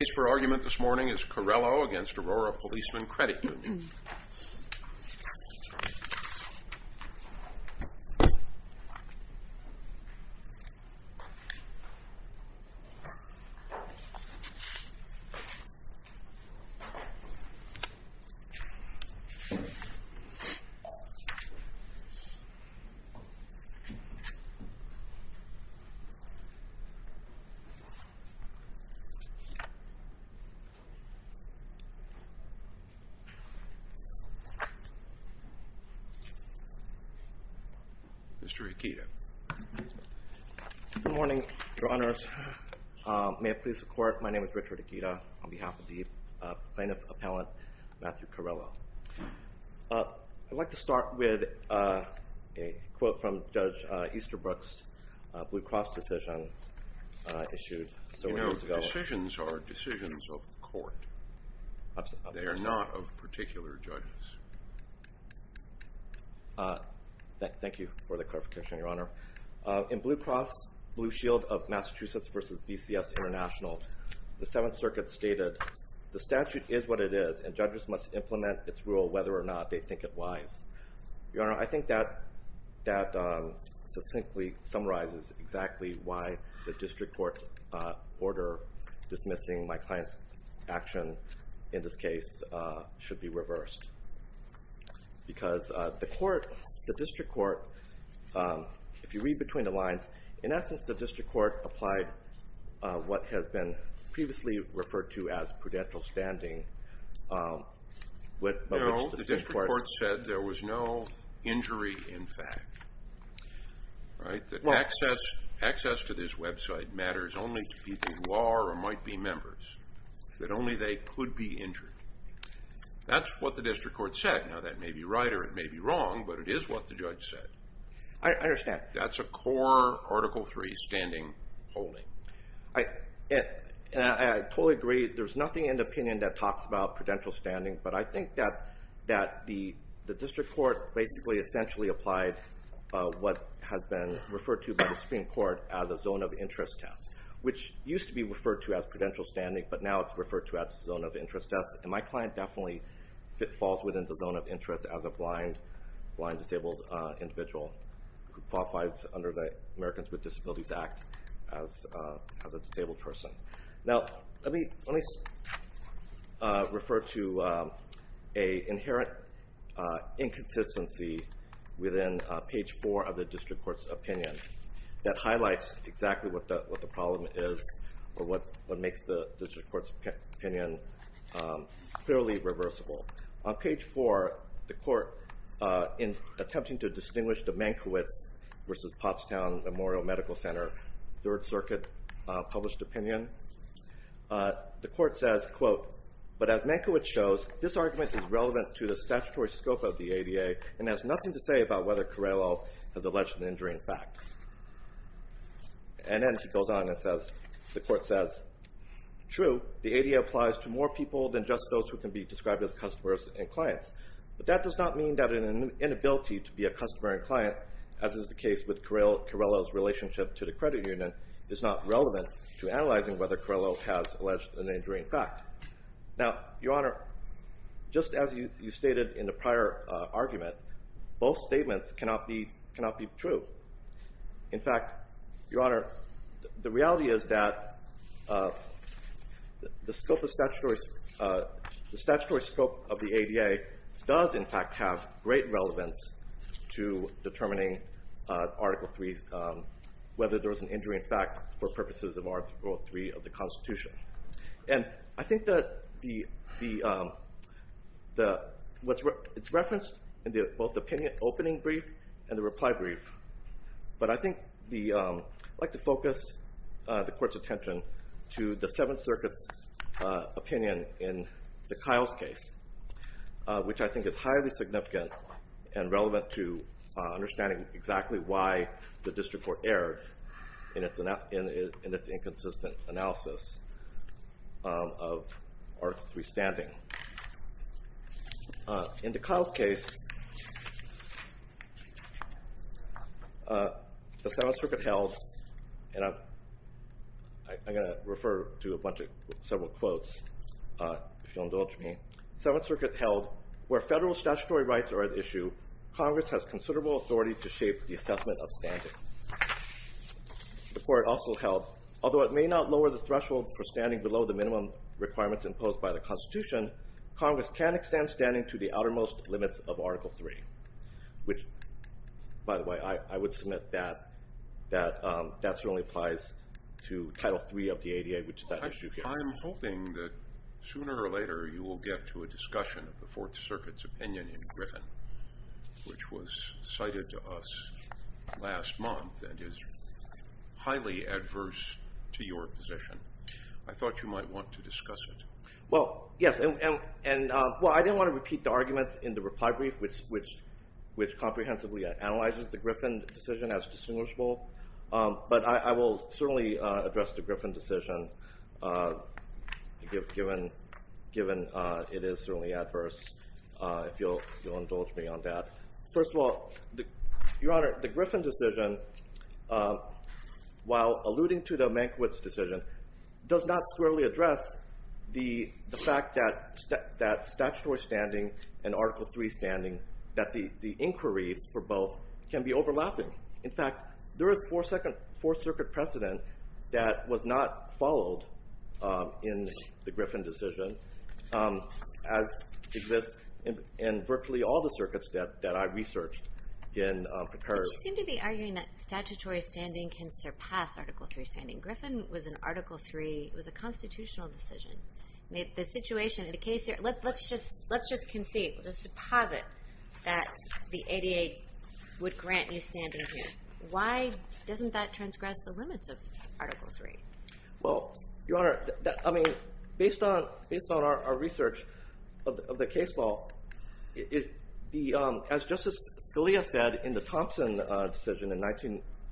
The case for argument this morning is Carello v. Aurora Policeman Credit Union Mr. Akita Good morning, your honors. May it please the court, my name is Richard Akita on behalf of the plaintiff's appellant, Matthew Carello. I'd like to start with a quote from Judge Easterbrook's Blue Cross decision issued several years ago. Decisions are decisions of the court. They are not of particular judges. Thank you for the clarification, your honor. In Blue Cross Blue Shield of Massachusetts v. BCS International, the Seventh Circuit stated, the statute is what it is and judges must implement its rule whether or not they think it wise. Your honor, I think that succinctly summarizes exactly why the district court's order dismissing my client's action in this case should be reversed. Because the court, the district court, if you read between the lines, in essence the district court applied what has been previously referred to as prudential standing. No, the district court said there was no injury in fact. Access to this website matters only to people who are or might be members. That only they could be injured. That's what the district court said. Now that may be right or it may be wrong, but it is what the judge said. I understand. That's a core Article III standing holding. I totally agree. There's nothing in the opinion that talks about prudential standing, but I think that the district court basically essentially applied what has been referred to by the Supreme Court as a zone of interest test, which used to be referred to as prudential standing, but now it's referred to as a zone of interest test. And my client definitely falls within the zone of interest as a blind disabled individual who qualifies under the Americans with Disabilities Act as a disabled person. Now let me refer to an inherent inconsistency within page four of the district court's opinion that highlights exactly what the problem is or what makes the district court's opinion clearly reversible. On page four, the court, in attempting to distinguish the Mankiewicz versus Pottstown Memorial Medical Center Third Circuit published opinion, the court says, quote, but as Mankiewicz shows, this argument is relevant to the statutory scope of the ADA and has nothing to say about whether Carrello has alleged an injuring fact. And then he goes on and says, the court says, true, the ADA applies to more people than just those who can be described as customers and clients, but that does not mean that an inability to be a customer and client, as is the case with Carrello's relationship to the credit union, is not relevant to analyzing whether Carrello has alleged an injuring fact. Now, Your Honor, just as you stated in the prior argument, both statements cannot be true. In fact, Your Honor, the reality is that the statutory scope of the ADA does, in fact, have great relevance to determining whether there was an injuring fact for purposes of Article III of the Constitution. And I think that what's referenced in both the opinion opening brief and the reply brief, but I think I'd like to focus the court's attention to the Seventh Circuit's opinion in the Kiles case, which I think is highly significant and relevant to understanding exactly why the district court erred in its inconsistent analysis. of Article III standing. In the Kiles case, the Seventh Circuit held, and I'm going to refer to a bunch of several quotes, if you'll indulge me. The Seventh Circuit held, where federal statutory rights are at issue, Congress has considerable authority to shape the assessment of standing. The court also held, although it may not lower the threshold for standing below the minimum requirements imposed by the Constitution, Congress can extend standing to the outermost limits of Article III, which, by the way, I would submit that that certainly applies to Title III of the ADA, which is that issue here. I'm hoping that sooner or later you will get to a discussion of the Fourth Circuit's opinion in Griffin, which was cited to us last month and is highly adverse to your position. I thought you might want to discuss it. Well, yes, and I didn't want to repeat the arguments in the reply brief, which comprehensively analyzes the Griffin decision as distinguishable, but I will certainly address the Griffin decision, given it is certainly adverse, if you'll indulge me on that. First of all, Your Honor, the Griffin decision, while alluding to the Mankiewicz decision, does not squarely address the fact that statutory standing and Article III standing, that the inquiries for both can be overlapping. In fact, there is Fourth Circuit precedent that was not followed in the Griffin decision, as exists in virtually all the circuits that I researched in precariousness. But you seem to be arguing that statutory standing can surpass Article III standing. Griffin was an Article III, it was a constitutional decision. Let's just concede, let's deposit that the ADA would grant you standing here. Why doesn't that transgress the limits of Article III? Well, Your Honor, based on our research of the case law, as Justice Scalia said in the Thompson decision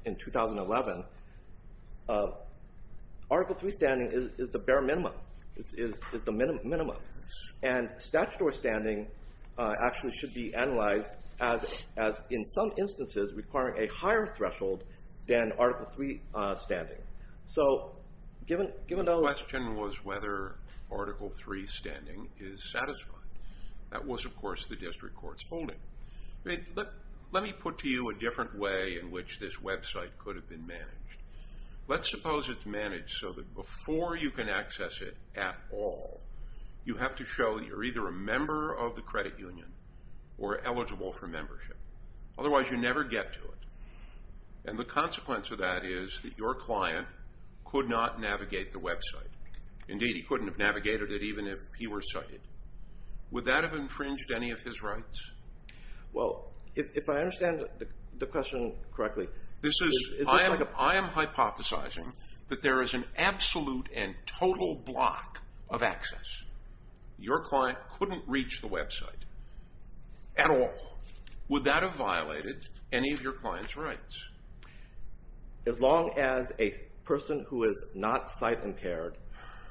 in 2011, Article III standing is the bare minimum, is the minimum. And statutory standing actually should be analyzed as, in some instances, requiring a higher threshold than Article III standing. So, given those... The question was whether Article III standing is satisfying. That was, of course, the district court's holding. Let me put to you a different way in which this website could have been managed. Let's suppose it's managed so that before you can access it at all, you have to show that you're either a member of the credit union or eligible for membership. Otherwise, you never get to it. And the consequence of that is that your client could not navigate the website. Indeed, he couldn't have navigated it even if he were cited. Would that have infringed any of his rights? Well, if I understand the question correctly... I am hypothesizing that there is an absolute and total block of access. Your client couldn't reach the website at all. Would that have violated any of your client's rights? As long as a person who is not sight-impaired,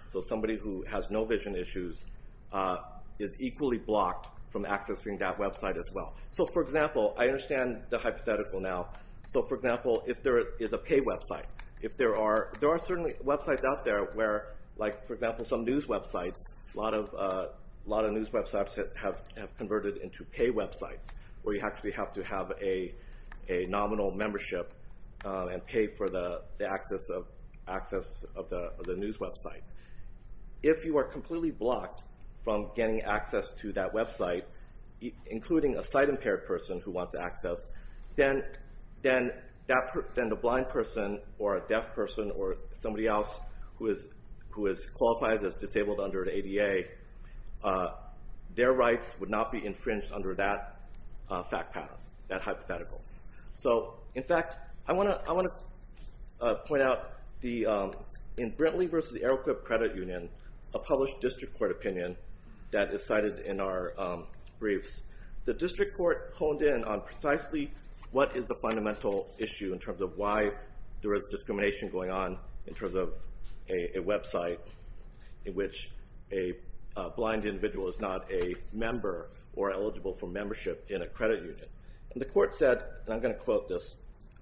so somebody who has no vision issues, is equally blocked from accessing that website as well. So, for example, I understand the hypothetical now. So, for example, if there is a pay website. There are certainly websites out there where, like, for example, some news websites, a lot of news websites have converted into pay websites, where you actually have to have a nominal membership and pay for the access of the news website. If you are completely blocked from getting access to that website, including a sight-impaired person who wants access, then the blind person or a deaf person or somebody else who qualifies as disabled under the ADA, their rights would not be infringed under that fact pattern, that hypothetical. So, in fact, I want to point out in Brintley v. Aeroquip Credit Union, a published district court opinion that is cited in our briefs. The district court honed in on precisely what is the fundamental issue in terms of why there is discrimination going on in terms of a website in which a blind individual is not a member or eligible for membership in a credit union. And the court said, and I'm going to quote this,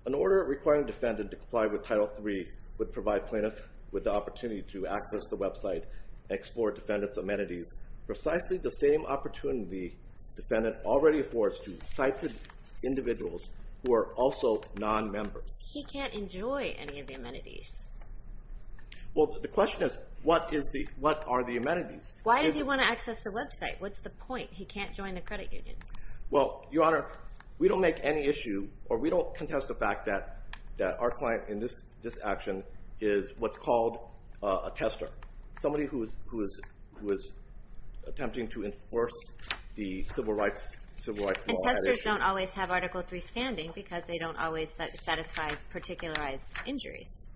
an order requiring a defendant to comply with Title III would provide plaintiffs with the opportunity to access the website and explore defendants' amenities, precisely the same opportunity a defendant already affords to sighted individuals who are also non-members. He can't enjoy any of the amenities. Well, the question is, what are the amenities? Why does he want to access the website? What's the point? He can't join the credit union. Well, Your Honor, we don't make any issue, or we don't contest the fact that our client in this action is what's called a tester, somebody who is attempting to enforce the civil rights law. And testers don't always have Article III standing because they don't always satisfy particularized injuries.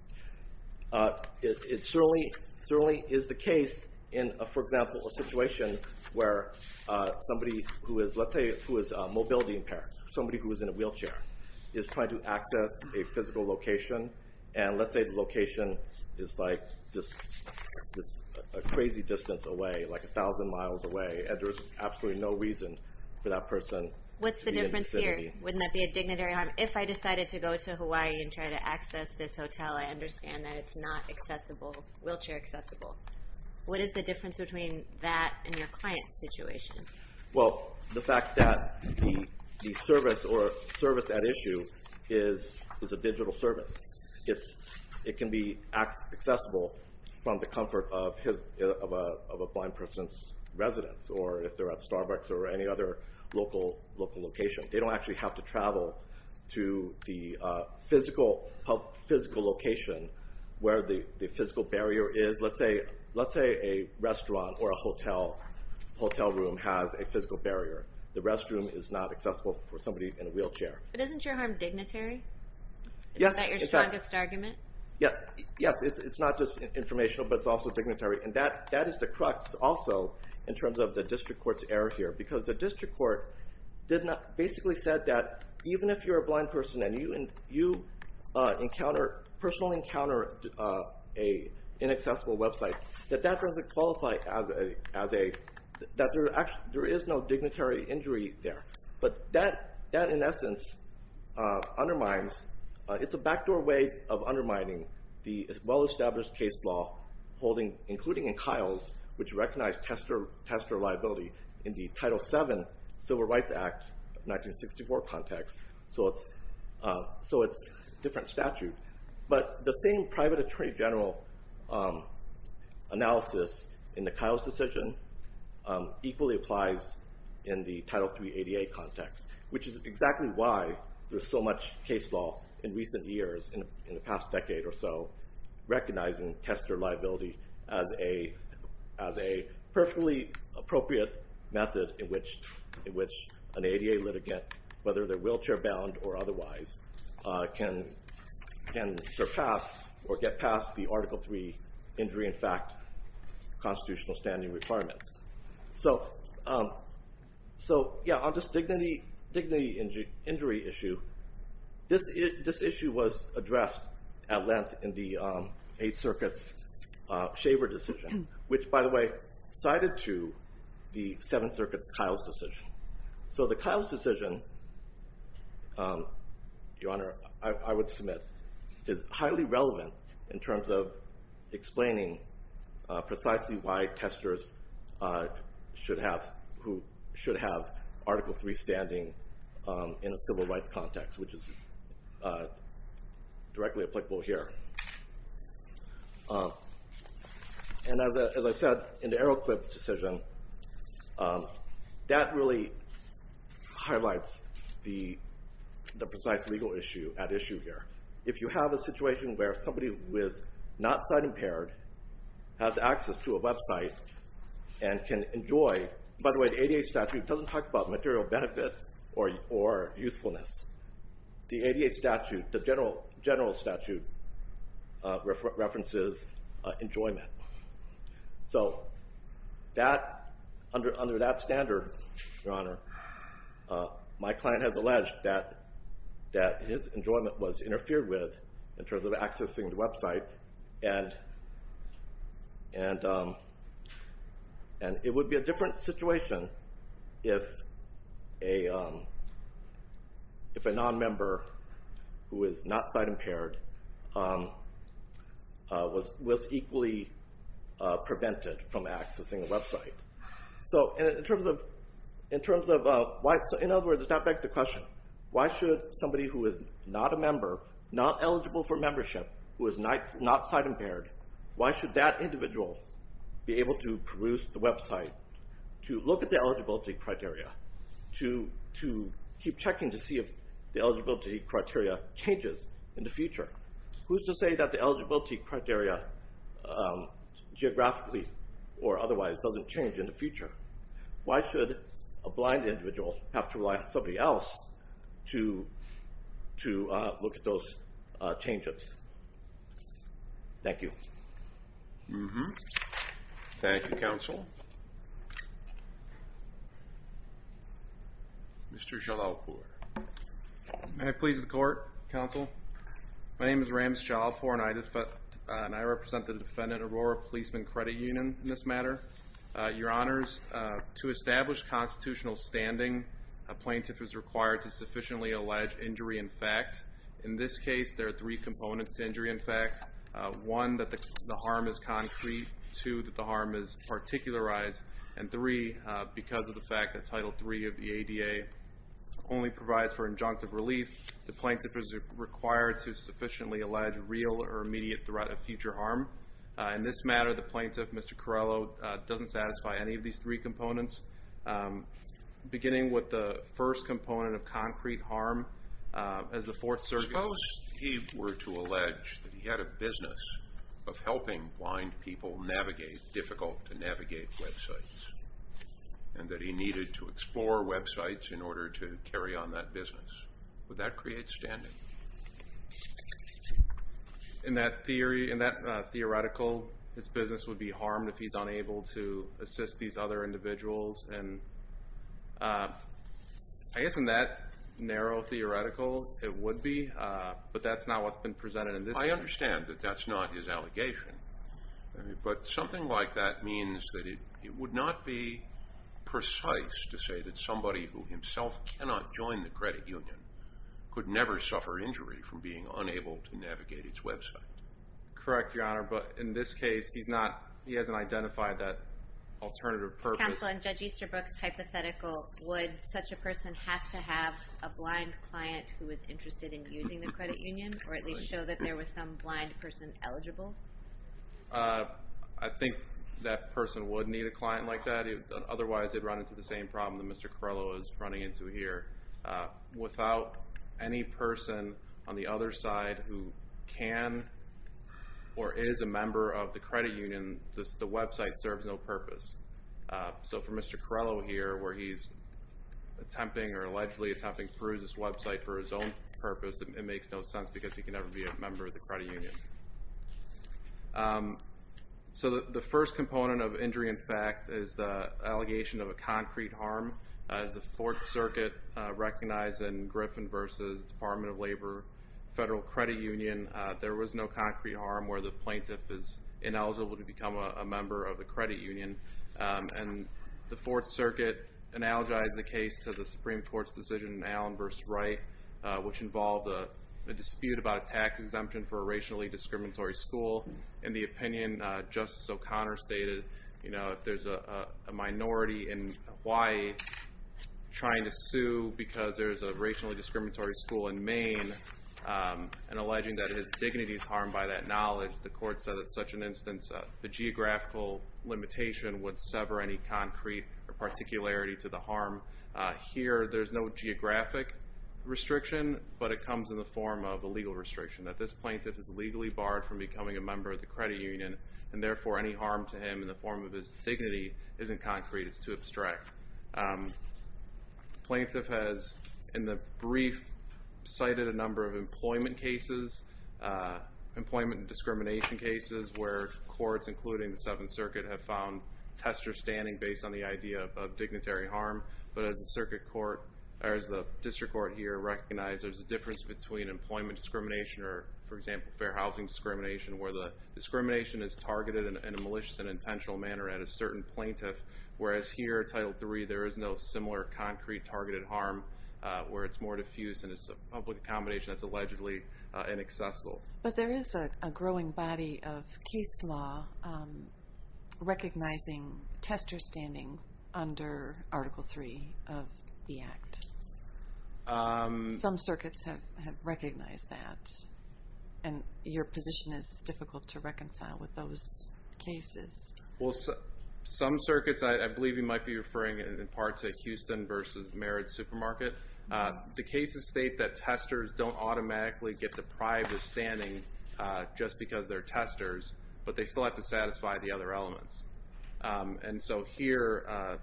It certainly is the case in, for example, a situation where somebody who is, let's say, who is mobility impaired, somebody who is in a wheelchair, is trying to access a physical location, and let's say the location is like this crazy distance away, like 1,000 miles away, and there's absolutely no reason for that person to be in the vicinity. What's the difference here? Wouldn't that be a dignitary harm? Your Honor, if I decided to go to Hawaii and try to access this hotel, I understand that it's not wheelchair accessible. What is the difference between that and your client's situation? Well, the fact that the service at issue is a digital service. It can be accessible from the comfort of a blind person's residence or if they're at Starbucks or any other local location. They don't actually have to travel to the physical location where the physical barrier is. Let's say a restaurant or a hotel room has a physical barrier. The restroom is not accessible for somebody in a wheelchair. But isn't your harm dignitary? Yes. Is that your strongest argument? Yes. It's not just informational, but it's also dignitary. And that is the crux also in terms of the district court's error here because the district court basically said that even if you're a blind person and you personally encounter an inaccessible website, that there is no dignitary injury there. But that, in essence, undermines. It's a backdoor way of undermining the well-established case law, including in Kyle's, which recognized tester liability in the Title VII Civil Rights Act of 1964 context. So it's a different statute. But the same private attorney general analysis in the Kyle's decision equally applies in the Title III ADA context, which is exactly why there's so much case law in recent years, in the past decade or so, recognizing tester liability as a perfectly appropriate method in which an ADA litigant, whether they're wheelchair-bound or otherwise, can surpass or get past the Article III injury in fact constitutional standing requirements. So on this dignity injury issue, this issue was addressed at length in the Eighth Circuit's Shaver decision, which, by the way, cited to the Seventh Circuit's Kyle's decision. So the Kyle's decision, Your Honor, I would submit, is highly relevant in terms of explaining precisely why testers should have Article III standing in a civil rights context, which is directly applicable here. And as I said, in the Arrowcliff decision, that really highlights the precise legal issue at issue here. If you have a situation where somebody who is not sign-impaired has access to a website and can enjoy... By the way, the ADA statute doesn't talk about material benefit or usefulness. The ADA statute, the general statute, references enjoyment. So under that standard, Your Honor, my client has alleged that his enjoyment was interfered with in terms of accessing the website, and it would be a different situation if a nonmember who is not sign-impaired was equally prevented from accessing a website. So in other words, that begs the question, why should somebody who is not a member, not eligible for membership, who is not sign-impaired, why should that individual be able to produce the website to look at the eligibility criteria, to keep checking to see if the eligibility criteria changes in the future? Who's to say that the eligibility criteria geographically or otherwise doesn't change in the future? Why should a blind individual have to rely on somebody else to look at those changes? Thank you. Thank you, counsel. Mr. Shalalpour. May I please the court, counsel? My name is Ram Shalalpour, and I represent the defendant Aurora Policeman Credit Union in this matter. Your Honors, to establish constitutional standing, a plaintiff is required to sufficiently allege injury in fact. In this case, there are three components to injury in fact. One, that the harm is concrete. Two, that the harm is particularized. And three, because of the fact that Title III of the ADA only provides for injunctive relief, the plaintiff is required to sufficiently allege real or immediate threat of future harm. In this matter, the plaintiff, Mr. Corrello, doesn't satisfy any of these three components, beginning with the first component of concrete harm as the Fourth Circuit. Suppose he were to allege that he had a business of helping blind people navigate difficult-to-navigate websites and that he needed to explore websites in order to carry on that business. Would that create standing? In that theory, in that theoretical, his business would be harmed if he's unable to assist these other individuals. I guess in that narrow theoretical, it would be, but that's not what's been presented in this case. I understand that that's not his allegation, but something like that means that it would not be precise to say that somebody who himself cannot join the credit union could never suffer injury from being unable to navigate its website. Correct, Your Honor, but in this case, he hasn't identified that alternative purpose. Counsel, in Judge Easterbrook's hypothetical, would such a person have to have a blind client who was interested in using the credit union or at least show that there was some blind person eligible? I think that person would need a client like that. Otherwise, they'd run into the same problem that Mr. Carrello is running into here. Without any person on the other side who can or is a member of the credit union, the website serves no purpose. So for Mr. Carrello here, where he's attempting or allegedly attempting to peruse this website for his own purpose, it makes no sense because he can never be a member of the credit union. So the first component of injury in fact is the allegation of a concrete harm. As the Fourth Circuit recognized in Griffin v. Department of Labor, Federal Credit Union, there was no concrete harm where the plaintiff is ineligible to become a member of the credit union. And the Fourth Circuit analogized the case to the Supreme Court's decision in Allen v. Wright, which involved a dispute about a tax exemption for a racially discriminatory school. In the opinion, Justice O'Connor stated if there's a minority in Hawaii trying to sue because there's a racially discriminatory school in Maine and alleging that his dignity is harmed by that knowledge, the court said in such an instance the geographical limitation would sever any concrete or particularity to the harm. Here there's no geographic restriction, but it comes in the form of a legal restriction that this plaintiff is legally barred from becoming a member of the credit union and therefore any harm to him in the form of his dignity isn't concrete, it's too abstract. The plaintiff has, in the brief, cited a number of employment cases, employment discrimination cases, where courts, including the Seventh Circuit, have found tester standing based on the idea of dignitary harm. But as the district court here recognized, there's a difference between employment discrimination or, for example, fair housing discrimination, where the discrimination is targeted in a malicious and intentional manner at a certain plaintiff, whereas here, Title III, there is no similar concrete targeted harm where it's more diffuse and it's a public accommodation that's allegedly inaccessible. But there is a growing body of case law recognizing tester standing under Article III of the Act. Some circuits have recognized that, and your position is difficult to reconcile with those cases. Well, some circuits, I believe you might be referring, in part, to Houston versus Merritt Supermarket. The cases state that testers don't automatically get deprived of standing just because they're testers, but they still have to satisfy the other elements. And so here,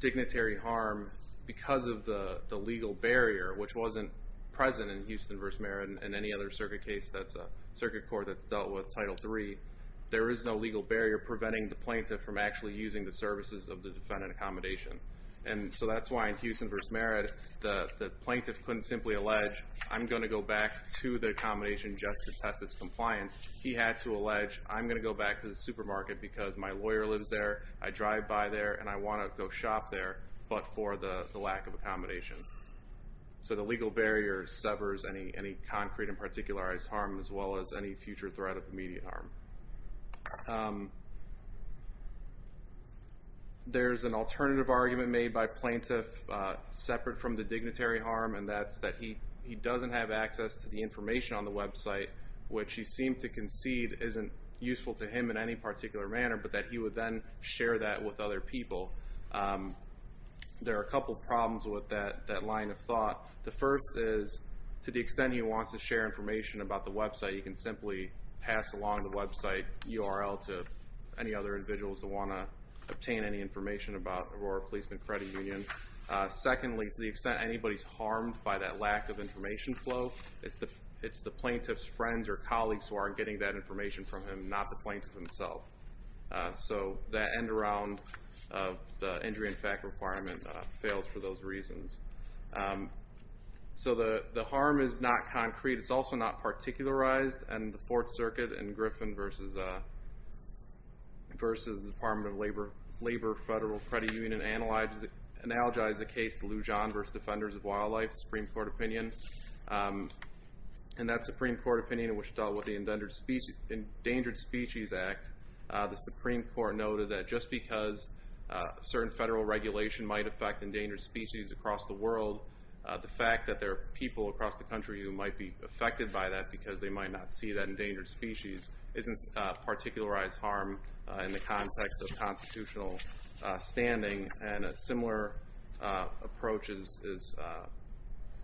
dignitary harm, because of the legal barrier, which wasn't present in Houston versus Merritt and any other circuit case that's a circuit court that's dealt with Title III, there is no legal barrier preventing the plaintiff from actually using the services of the defendant accommodation. And so that's why in Houston versus Merritt, the plaintiff couldn't simply allege, I'm going to go back to the accommodation just to test its compliance. He had to allege, I'm going to go back to the supermarket because my lawyer lives there, I drive by there, and I want to go shop there, but for the lack of accommodation. So the legal barrier severs any concrete and particularized harm as well as any future threat of immediate harm. There's an alternative argument made by plaintiff separate from the dignitary harm, and that's that he doesn't have access to the information on the website, which he seemed to concede isn't useful to him in any particular manner, but that he would then share that with other people. There are a couple problems with that line of thought. The first is, to the extent he wants to share information about the website, he can simply pass along the website URL to any other individuals that want to obtain any information about Aurora Policeman Credit Union. Secondly, to the extent anybody's harmed by that lack of information flow, it's the plaintiff's friends or colleagues who are getting that information from him, not the plaintiff himself. So that end-around injury-in-effect requirement fails for those reasons. So the harm is not concrete, it's also not particularized, and the Fourth Circuit in Griffin v. Department of Labor Federal Credit Union analogized the case to Lou John v. Defenders of Wildlife, Supreme Court opinion. And that Supreme Court opinion, which dealt with the Endangered Species Act, the Supreme Court noted that just because certain federal regulation might affect endangered species across the world, the fact that there are people across the country who might be affected by that because they might not see that endangered species isn't a particularized harm in the context of constitutional standing. And a similar approach is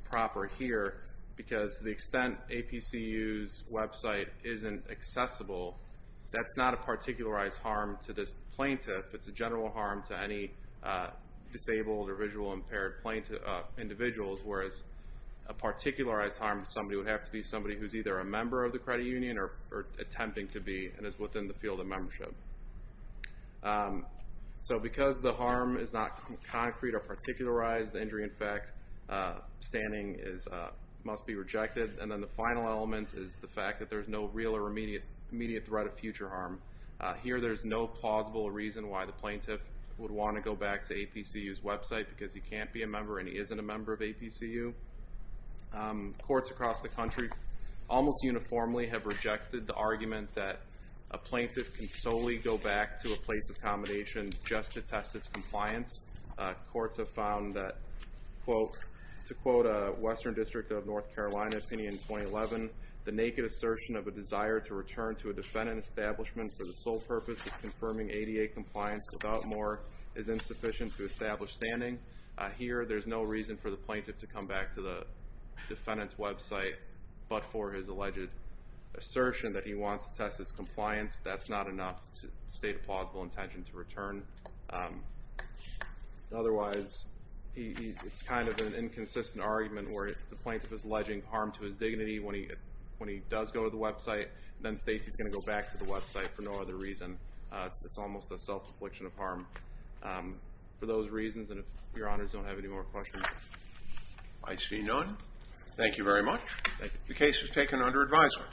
proper here because to the extent APCU's website isn't accessible, that's not a particularized harm to this plaintiff. It's a general harm to any disabled or visual-impaired individuals, whereas a particularized harm to somebody would have to be somebody who's either a member of the credit union or attempting to be and is within the field of membership. So because the harm is not concrete or particularized, the injury in fact standing must be rejected. And then the final element is the fact that there's no real or immediate threat of future harm. Here there's no plausible reason why the plaintiff would want to go back to APCU's website because he can't be a member and he isn't a member of APCU. Courts across the country almost uniformly have rejected the argument that a plaintiff can solely go back to a place of accommodation just to test his compliance. Courts have found that, quote, to quote a Western District of North Carolina opinion in 2011, the naked assertion of a desire to return to a defendant establishment for the sole purpose of confirming ADA compliance without more is insufficient to establish standing. Here there's no reason for the plaintiff to come back to the defendant's website but for his alleged assertion that he wants to test his compliance. That's not enough to state a plausible intention to return. Otherwise, it's kind of an inconsistent argument where the plaintiff is alleging harm to his dignity when he does go to the website and then states he's going to go back to the website for no other reason. It's almost a self-infliction of harm for those reasons. And if Your Honors don't have any more questions... I see none. Thank you very much. The case is taken under advisement.